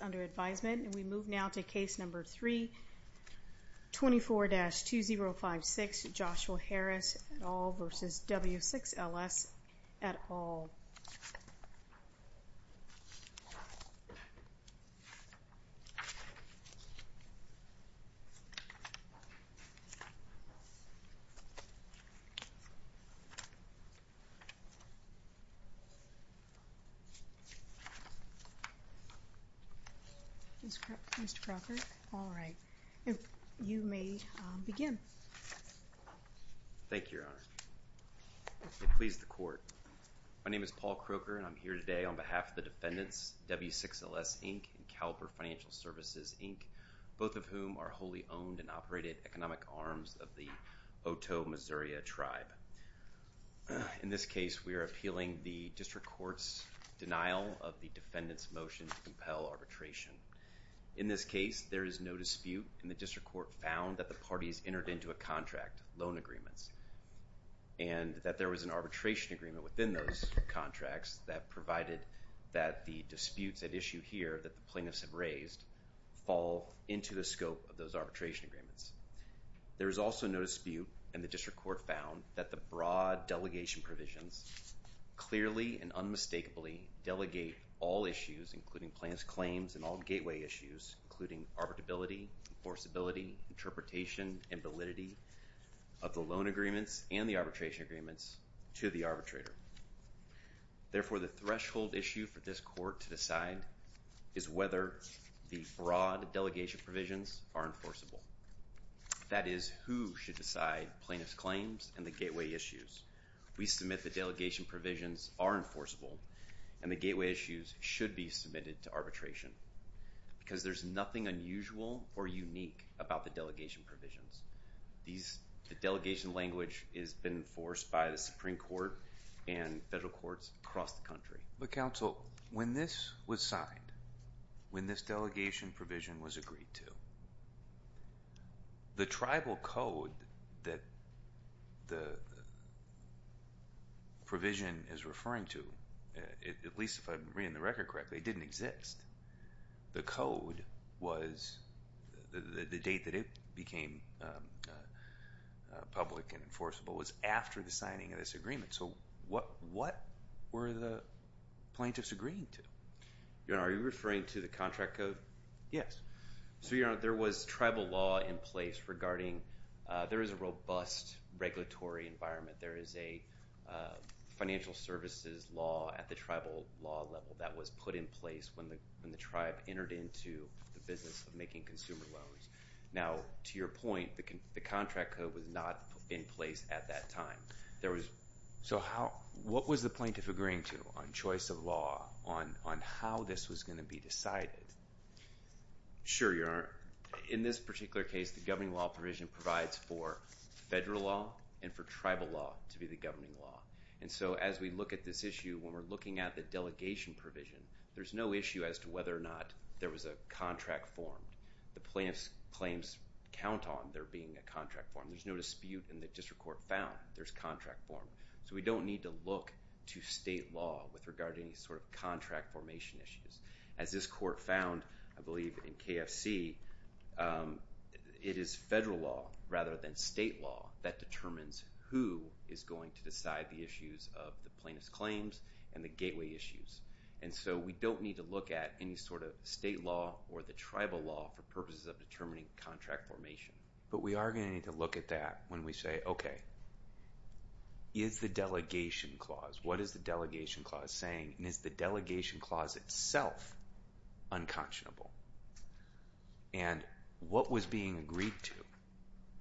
under advisement and we move now to case number 3, 24-2056, Joshua Harris v. W6LS, W6LS, USHERS, ENSO subgroup, and I'm going to turn things over to Mr. Wood for comment My name is Paul Croker, and I'm here today on behalf of the defendants, W6LS, Inc., and Caliber Financial Services, Inc., both of whom are wholly owned and operated economic arms of the Otoe, Missouri tribe. In this case, we are appealing the district court's denial of the defendant's motion to compel arbitration. In this case, there is no dispute, and the district court found that the parties entered into a contract, loan agreements, and that there was an arbitration agreement within those contracts that provided that the disputes at issue here that the plaintiffs have raised fall into the scope of those arbitration agreements. There is also no dispute, and the district court found that the broad delegation provisions clearly and unmistakably delegate all issues, including plaintiff's claims and all gateway issues, including arbitrability, enforceability, interpretation, and validity of the loan agreements and the arbitration agreements to the arbitrator. Therefore, the threshold issue for this court to decide is whether the broad delegation provisions are enforceable. That is who should decide plaintiff's claims and the gateway issues. We submit the delegation provisions are enforceable, and the gateway issues should be submitted to arbitration because there is nothing unusual or unique about the delegation provisions. The delegation language has been enforced by the Supreme Court and federal courts across the country. But counsel, when this was signed, when this delegation provision was agreed to, the tribal code that the provision is referring to, at least if I am reading the record correctly, didn't exist. The code was, the date that it became public and enforceable was after the signing of this agreement. So what were the plaintiffs agreeing to? Your Honor, are you referring to the contract code? Yes. So, Your Honor, there was tribal law in place regarding, there is a robust regulatory environment. There is a financial services law at the tribal law level that was put in place when the tribe entered into the business of making consumer loans. Now, to your point, the contract code was not in place at that time. There was, so how, what was the plaintiff agreeing to on choice of law, on how this was going to be decided? Sure, Your Honor. In this particular case, the governing law provision provides for federal law and for tribal law to be the governing law. And so as we look at this issue, when we are looking at the delegation provision, there is no issue as to whether or not there was a contract formed. The plaintiff's claims count on there being a contract formed. There is no dispute in the district court found there is contract formed. So we don't need to look to state law with regard to any sort of contract formation issues. As this court found, I believe in KFC, it is federal law rather than state law that determines who is going to decide the issues of the plaintiff's claims and the gateway issues. And so we don't need to look at any sort of state law or the tribal law for purposes of determining contract formation. But we are going to need to look at that when we say, okay, is the delegation clause, what is the delegation clause saying? And is the delegation clause itself unconscionable? And what was being agreed to?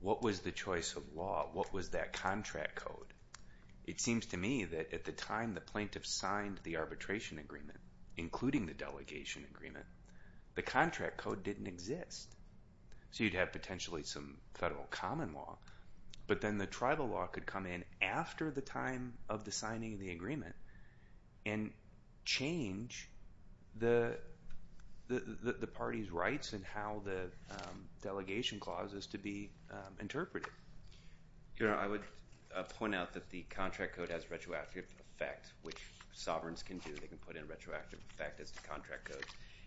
What was the choice of law? What was that contract code? It seems to me that at the time the plaintiff signed the arbitration agreement, including the delegation agreement, the contract code didn't exist. So you would have potentially some federal common law. But then the tribal law could come in after the time of the signing of the agreement and change the party's rights and how the delegation clause is to be interpreted. I would point out that the contract code has retroactive effect, which sovereigns can do. They can put in retroactive effect as the contract code.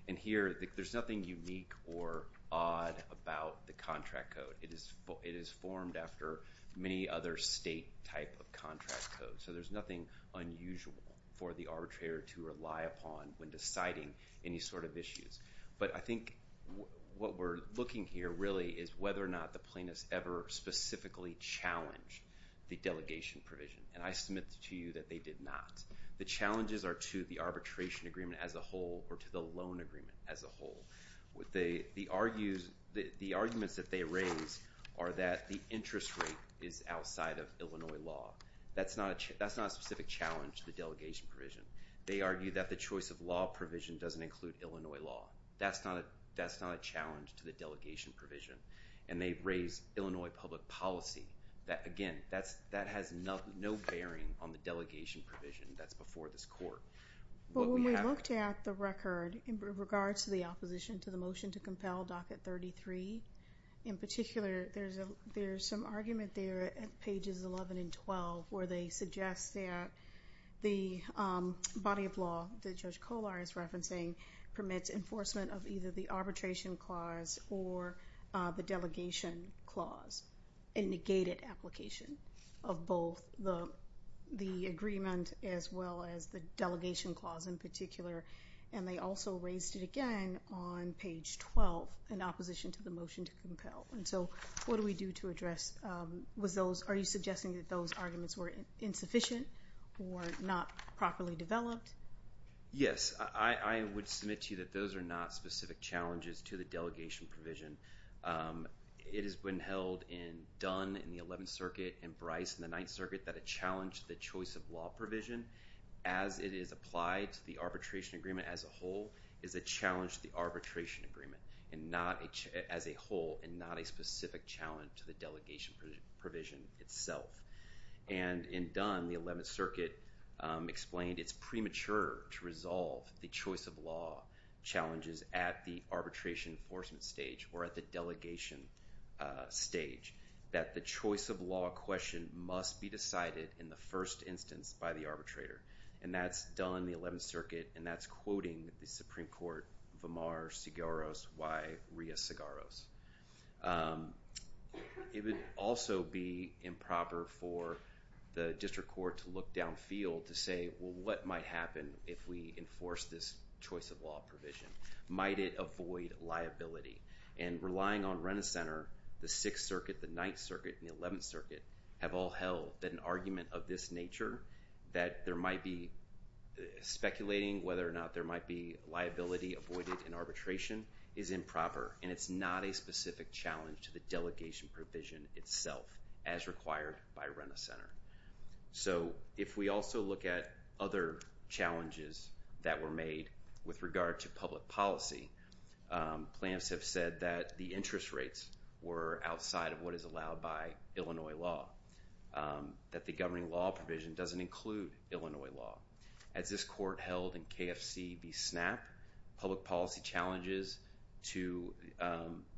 And here, there's nothing unique or odd about the contract code. It is formed after many other state type of contract codes. So there's nothing unusual for the arbitrator to rely upon when deciding any sort of issues. But I think what we're looking here really is whether or not the plaintiffs ever specifically challenged the delegation provision. And I submit to you that they did not. The challenges are to the arbitration agreement as a whole or to the loan agreement as a whole. The arguments that they raise are that the interest rate is outside of Illinois law. That's not a specific challenge to the delegation provision. They argue that the choice of law provision doesn't include Illinois law. That's not a challenge to the delegation provision. And they raise Illinois public policy. Again, that has no bearing on the delegation provision that's before this court. But when we looked at the record in regards to the opposition to the motion to compel Docket 33, in particular, there's some argument there at pages 11 and 12 where they suggest that the body of law that Judge Kollar is referencing permits enforcement of either the arbitration clause or the delegation clause, a negated application of both the agreement as well as the delegation clause in particular. And they also raised it again on page 12 in opposition to the motion to compel. And so what do we do to address those? Are you suggesting that those arguments were insufficient or not properly developed? Yes. I would submit to you that those are not specific challenges to the delegation provision. It has been held in Dunn in the 11th Circuit and Bryce in the 9th Circuit that a challenge to the choice of law provision as it is applied to the arbitration agreement as a whole is a challenge to the arbitration agreement as a whole and not a specific challenge to the delegation provision itself. And in Dunn, the 11th Circuit explained it's premature to resolve the choice of law challenges at the arbitration enforcement stage or at the delegation stage, that the choice of law question must be decided in the first instance by the arbitrator. And that's Dunn in the 11th Circuit, and that's quoting the Supreme Court, Vemar Segaros y Ria Segaros. It would also be improper for the district court to look downfield to say, well, what might happen if we enforce this choice of law provision? Might it avoid liability? And relying on Rent-A-Center, the 6th Circuit, the 9th Circuit, and the 11th Circuit have all held that an argument of this nature, that there might be speculating whether or not there might be liability avoided in arbitration, is improper, and it's not a specific challenge to the delegation provision itself as required by Rent-A-Center. So if we also look at other challenges that were made with regard to public policy, plans have said that the interest rates were outside of what is allowed by Illinois law, that the governing law provision doesn't include Illinois law. As this court held in KFC v. SNAP, public policy challenges to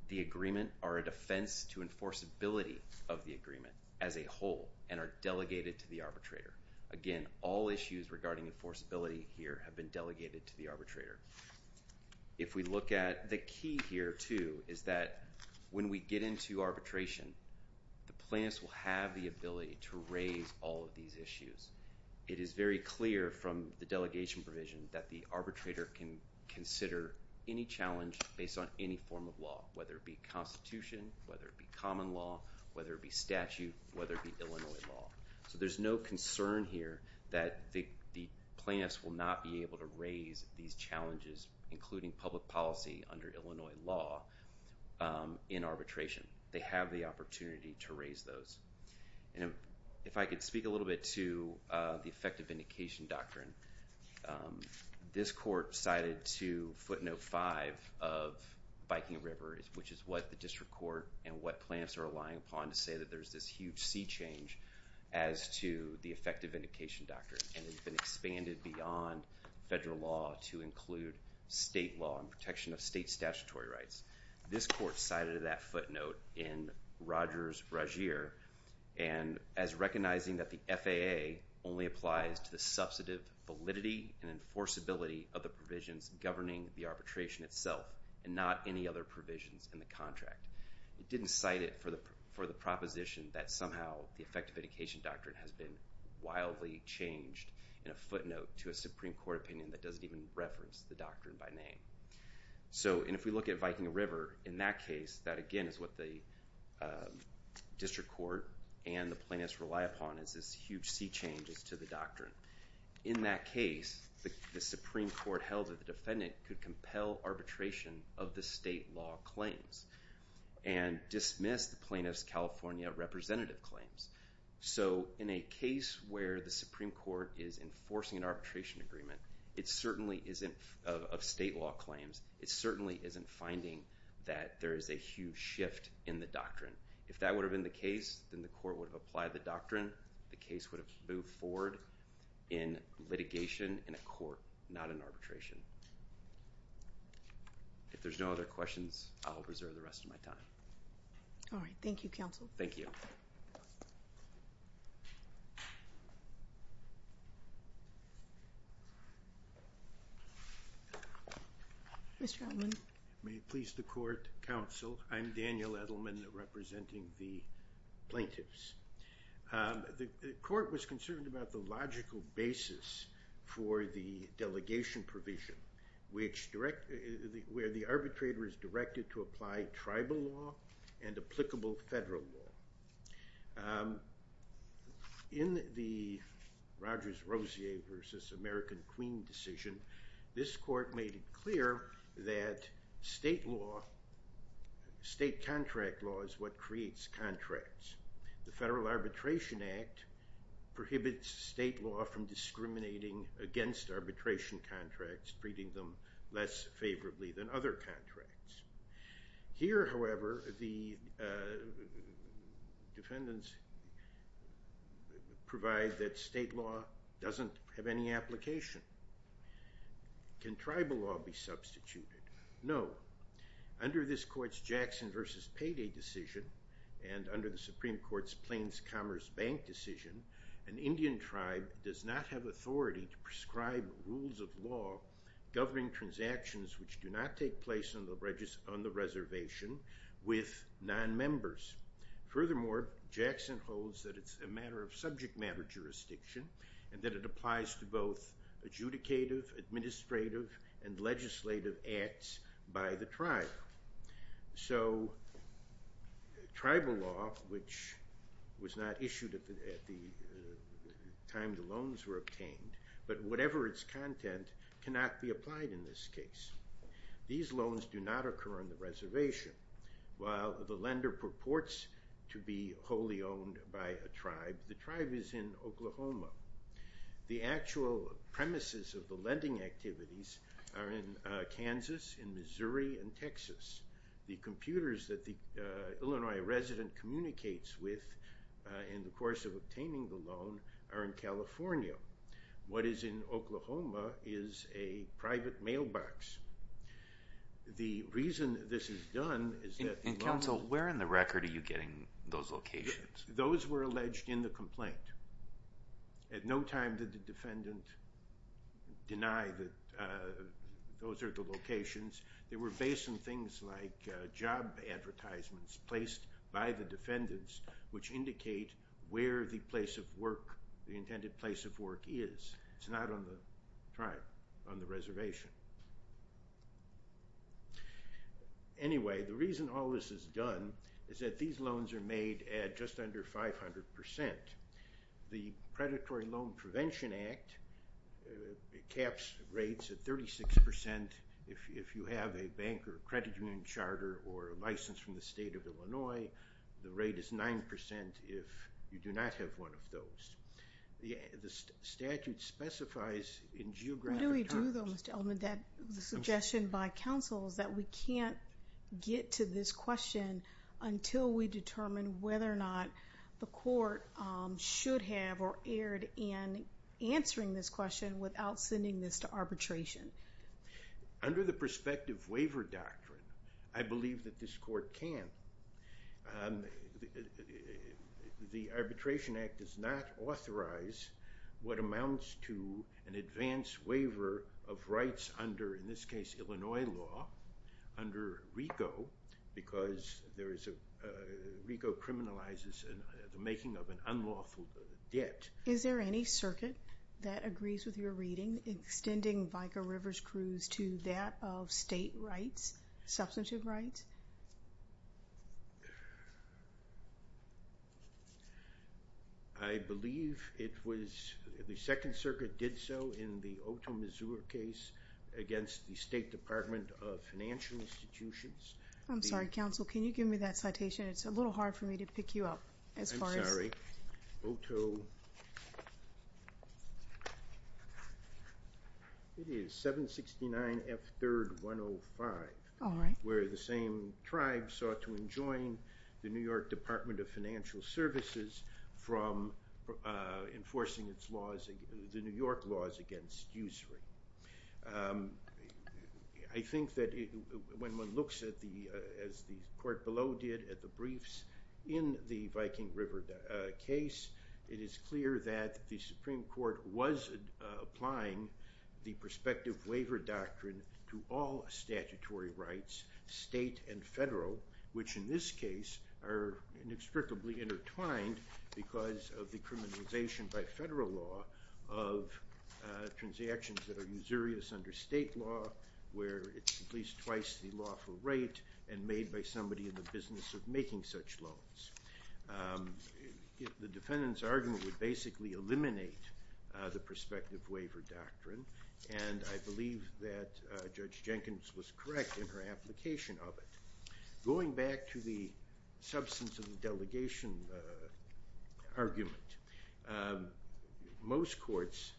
the agreement are a defense to enforceability of the agreement as a whole, and are delegated to the arbitrator. Again, all issues regarding enforceability here have been delegated to the arbitrator. If we look at the key here, too, is that when we get into arbitration, the plans will have the ability to raise all of these issues. It is very clear from the delegation provision that the arbitrator can consider any challenge based on any form of law, whether it be constitution, whether it be common law, whether it be statute, whether it be Illinois law. So there's no concern here that the plans will not be able to raise these challenges, including public policy under Illinois law, in arbitration. They have the opportunity to raise those. If I could speak a little bit to the effective vindication doctrine. This court cited to footnote 5 of Viking River, which is what the district court and what plans are relying upon to say that there's this huge sea change as to the effective vindication doctrine, and it's been expanded beyond federal law to include state law and protection of state statutory rights. This court cited that footnote in Rogers-Ragir as recognizing that the FAA only applies to the substantive validity and enforceability of the provisions governing the arbitration itself and not any other provisions in the contract. It didn't cite it for the proposition that somehow the effective vindication doctrine has been wildly changed in a footnote to a Supreme Court opinion that doesn't even reference the doctrine by name. And if we look at Viking River, in that case, that again is what the district court and the plaintiffs rely upon is this huge sea change as to the doctrine. In that case, the Supreme Court held that the defendant could compel arbitration of the state law claims and dismiss the plaintiff's California representative claims. So, in a case where the Supreme Court is enforcing an arbitration agreement, it certainly isn't of state law claims. It certainly isn't finding that there is a huge shift in the doctrine. If that would have been the case, then the court would have applied the doctrine. The case would have moved forward in litigation in a court, not in arbitration. If there's no other questions, I'll reserve the rest of my time. All right. Thank you, counsel. Thank you. May it please the court, counsel. I'm Daniel Edelman representing the plaintiffs. The court was concerned about the logical basis for the delegation provision, where the arbitrator is directed to apply tribal law and applicable federal law. In the Rogers-Rosier v. American Queen decision, this court made it clear that state contract law is what creates contracts. The Federal Arbitration Act prohibits state law from discriminating against arbitration contracts, treating them less favorably than other contracts. Here, however, the defendants provide that state law doesn't have any application. Can tribal law be substituted? No. Under this court's Jackson v. Payday decision and under the Supreme Court's Plains Commerce Bank decision, an Indian tribe does not have authority to prescribe rules of law governing transactions which do not take place on the reservation with nonmembers. Furthermore, Jackson holds that it's a matter of subject matter jurisdiction and that it applies to both adjudicative, administrative, and legislative acts by the tribe. So tribal law, which was not issued at the time the loans were obtained, but whatever its content cannot be applied in this case. These loans do not occur on the reservation. While the lender purports to be wholly owned by a tribe, the tribe is in Oklahoma. The actual premises of the lending activities are in Kansas, Missouri, and Texas. The computers that the Illinois resident communicates with in the course of obtaining the loan are in California. What is in Oklahoma is a private mailbox. The reason this is done is that the loan... And counsel, where in the record are you getting those locations? Those were alleged in the complaint. At no time did the defendant deny that those are the locations. They were based on things like job advertisements placed by the defendants, which indicate where the place of work, the intended place of work is. It's not on the tribe, on the reservation. Anyway, the reason all this is done is that these loans are made at just under 500%. The Predatory Loan Prevention Act caps rates at 36% if you have a bank or credit union charter or license from the state of Illinois. The rate is 9% if you do not have one of those. The statute specifies in geographic terms... What do we do, though, Mr. Elman? The suggestion by counsel is that we can't get to this question until we determine whether or not the court should have or erred in answering this question without sending this to arbitration. Under the prospective waiver doctrine, I believe that this court can. The Arbitration Act does not authorize what amounts to an advance waiver of rights under, in this case, Illinois law, under RICO, because RICO criminalizes the making of an unlawful debt. Is there any circuit that agrees with your reading, extending Vika Rivers Cruz to that of state rights, substantive rights? I believe it was, the Second Circuit did so in the Otoe, Missouri case against the State Department of Financial Institutions. I'm sorry, counsel, can you give me that citation? It's a little hard for me to pick you up as far as... Otoe... It is 769 F. 3rd 105. All right. Where the same tribe sought to enjoin the New York Department of Financial Services from enforcing the New York laws against usury. I think that when one looks at the, as the court below did at the briefs in the Viking River case, it is clear that the Supreme Court was applying the prospective waiver doctrine to all statutory rights, state and federal, which in this case are inextricably intertwined because of the criminalization by federal law of transactions that are usurious under state law, where it's at least twice the lawful rate and made by somebody in the business of making such loans. The defendant's argument would basically eliminate the prospective waiver doctrine, and I believe that Judge Jenkins was correct in her application of it. Going back to the substance of the delegation argument, most courts,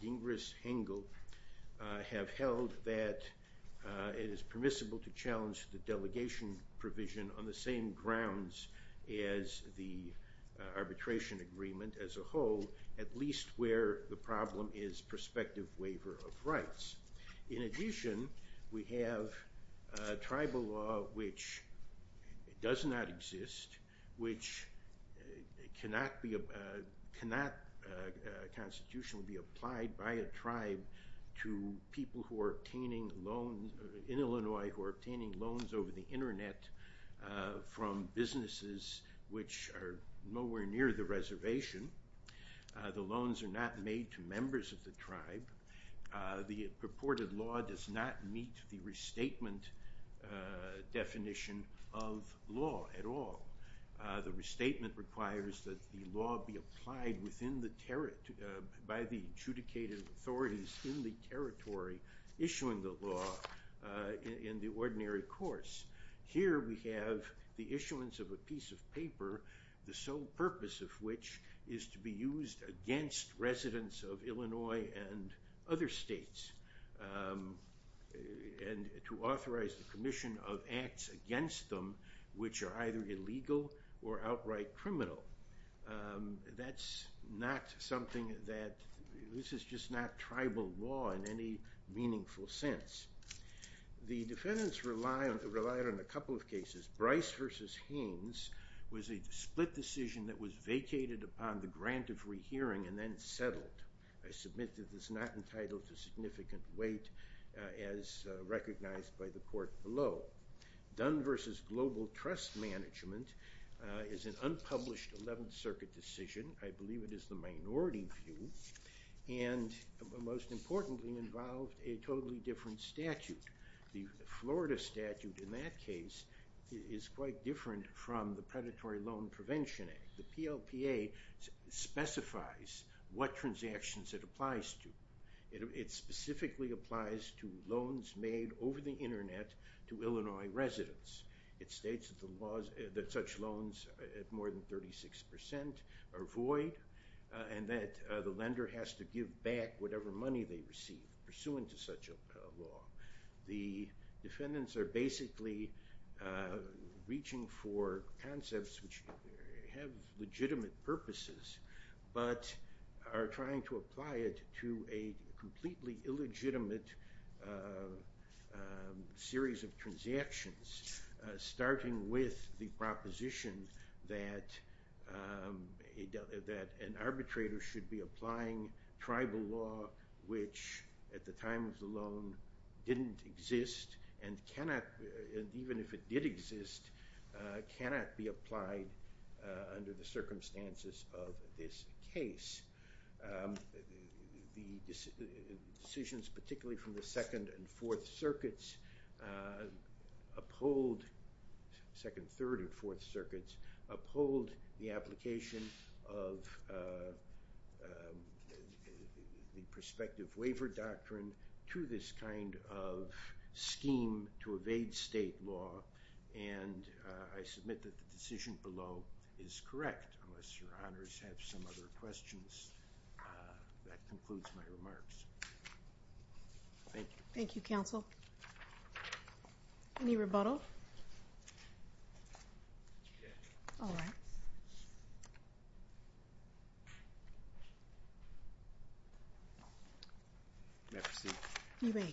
Dingres, Hengel, have held that it is permissible to challenge the delegation provision on the same grounds as the arbitration agreement as a whole, at least where the problem is prospective waiver of rights. In addition, we have tribal law which does not exist, which cannot be, cannot constitutionally be applied by a tribe to people who are obtaining loans, in Illinois, who are obtaining loans over the internet from businesses which are nowhere near the reservation. The loans are not made to members of the tribe. The purported law does not meet the restatement definition of law at all. The restatement requires that the law be applied by the adjudicated authorities in the territory issuing the law in the ordinary course. Here we have the issuance of a piece of paper, the sole purpose of which is to be used against residents of Illinois and other states, and to authorize the commission of acts against them which are either illegal or outright criminal. That's not something that, this is just not tribal law in any meaningful sense. The defendants relied on a couple of cases. Bryce v. Haynes was a split decision that was vacated upon the grant of rehearing and then settled. I submit that this is not entitled to significant weight as recognized by the court below. Dunn v. Global Trust Management is an unpublished 11th Circuit decision. I believe it is the minority view. And most importantly involved a totally different statute. The Florida statute in that case is quite different from the Predatory Loan Prevention Act. The PLPA specifies what transactions it applies to. It specifically applies to loans made over the internet to Illinois residents. It states that such loans at more than 36% are void and that the lender has to give back whatever money they receive pursuant to such a law. The defendants are basically reaching for concepts which have legitimate purposes, but are trying to apply it to a completely illegitimate series of transactions. Starting with the proposition that an arbitrator should be applying tribal law which at the time of the loan didn't exist and cannot, even if it did exist, cannot be applied under the circumstances of this case. The decisions, particularly from the Second and Third and Fourth Circuits, uphold the application of the prospective waiver doctrine to this kind of scheme to evade state law. And I submit that the decision below is correct, unless your honors have some other questions. That concludes my remarks. Thank you. Thank you, counsel. Any rebuttal? All right. May I proceed? You may. I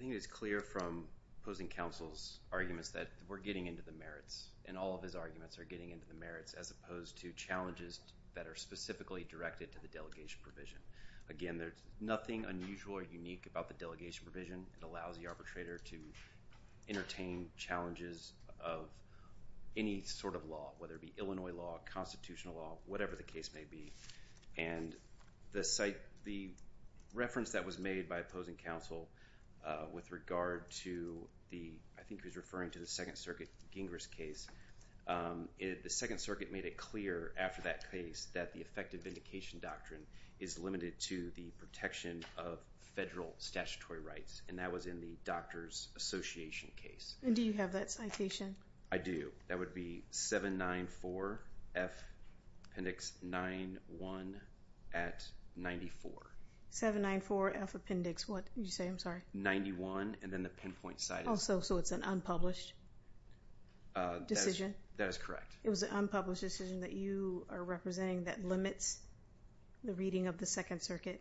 think it's clear from opposing counsel's arguments that we're getting into the merits, and all of his arguments are getting into the merits, as opposed to challenges that are specifically directed to the delegation provision. Again, there's nothing unusual or unique about the delegation provision. It allows the arbitrator to entertain challenges of any sort of law, whether it be Illinois law, constitutional law, whatever the case may be. And the reference that was made by opposing counsel with regard to the, I think he was referring to the Second Circuit Gingras case, the Second Circuit made it clear after that case that the effective vindication doctrine is limited to the protection of federal statutory rights. And that was in the doctor's association case. And do you have that citation? I do. That would be 794F appendix 91 at 94. 794F appendix what did you say? I'm sorry. 91, and then the pinpoint citing. So it's an unpublished decision? That is correct. It was an unpublished decision that you are representing that limits the reading of the Second Circuit?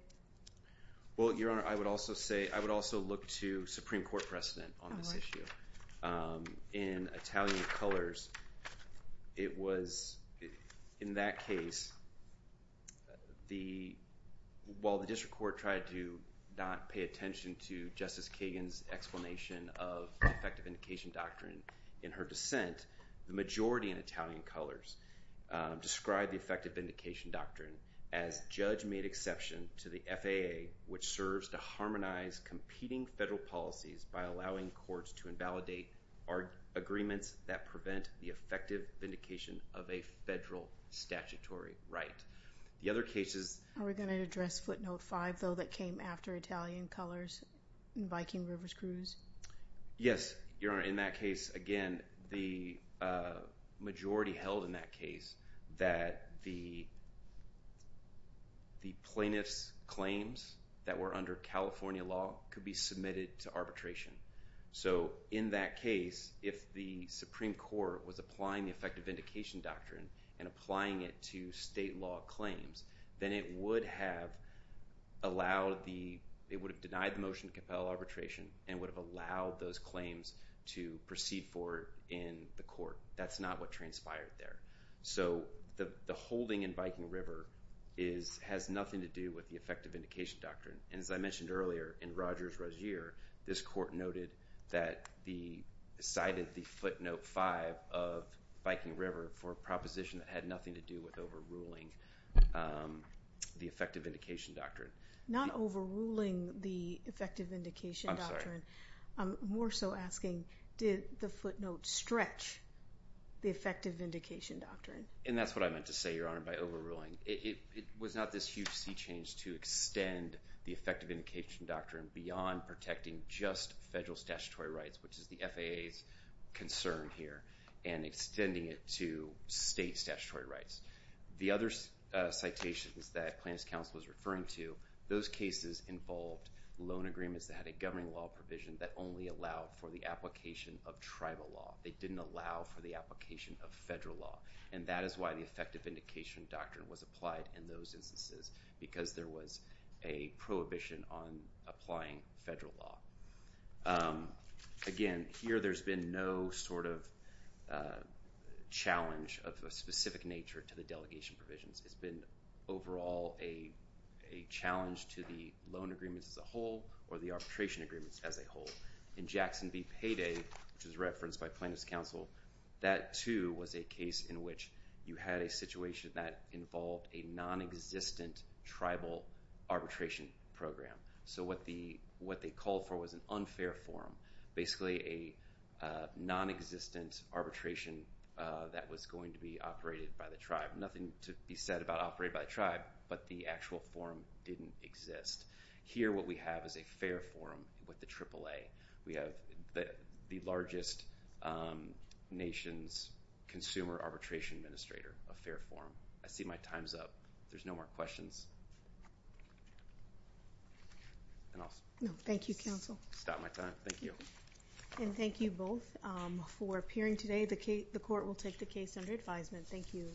Well, Your Honor, I would also say, I would also look to Supreme Court precedent on this issue. In Italian colors, it was in that case, while the district court tried to not pay attention to Justice Kagan's explanation of effective vindication doctrine in her dissent, the majority in Italian colors described the effective vindication doctrine as judge made exception to the FAA, which serves to harmonize competing federal policies by allowing courts to invalidate our agreements that prevent the effective vindication of a federal statutory right. The other cases. Are we going to address footnote five, though, that came after Italian colors in Viking Rivers cruise? Yes, Your Honor. In that case, again, the majority held in that case that the plaintiff's claims that were under California law could be submitted to arbitration. So in that case, if the Supreme Court was applying the effective vindication doctrine and applying it to state law claims, then it would have denied the motion to compel arbitration and would have allowed those claims to proceed forward in the court. That's not what transpired there. So the holding in Viking River has nothing to do with the effective vindication doctrine. And as I mentioned earlier, in Rogers-Rozier, this court noted that the cited the footnote five of Viking River for a proposition that had nothing to do with overruling the effective vindication doctrine. Not overruling the effective vindication doctrine. I'm more so asking, did the footnote stretch the effective vindication doctrine? And that's what I meant to say, Your Honor, by overruling. It was not this huge sea change to extend the effective vindication doctrine beyond protecting just federal statutory rights, which is the FAA's concern here, and extending it to state statutory rights. The other citations that plaintiff's counsel was referring to, those cases involved loan agreements that had a governing law provision that only allowed for the application of tribal law. They didn't allow for the application of federal law. And that is why the effective vindication doctrine was applied in those instances, because there was a prohibition on applying federal law. Again, here there's been no sort of challenge of a specific nature to the delegation provisions. It's been overall a challenge to the loan agreements as a whole or the arbitration agreements as a whole. In Jackson v. Payday, which was referenced by plaintiff's counsel, that too was a case in which you had a situation that involved a nonexistent tribal arbitration program. So what they called for was an unfair forum, basically a nonexistent arbitration that was going to be operated by the tribe. Nothing to be said about operated by the tribe, but the actual forum didn't exist. Here what we have is a fair forum with the AAA. We have the largest nation's consumer arbitration administrator, a fair forum. I see my time's up. If there's no more questions, then I'll stop my time. Thank you. And thank you both for appearing today. The court will take the case under advisement. Thank you.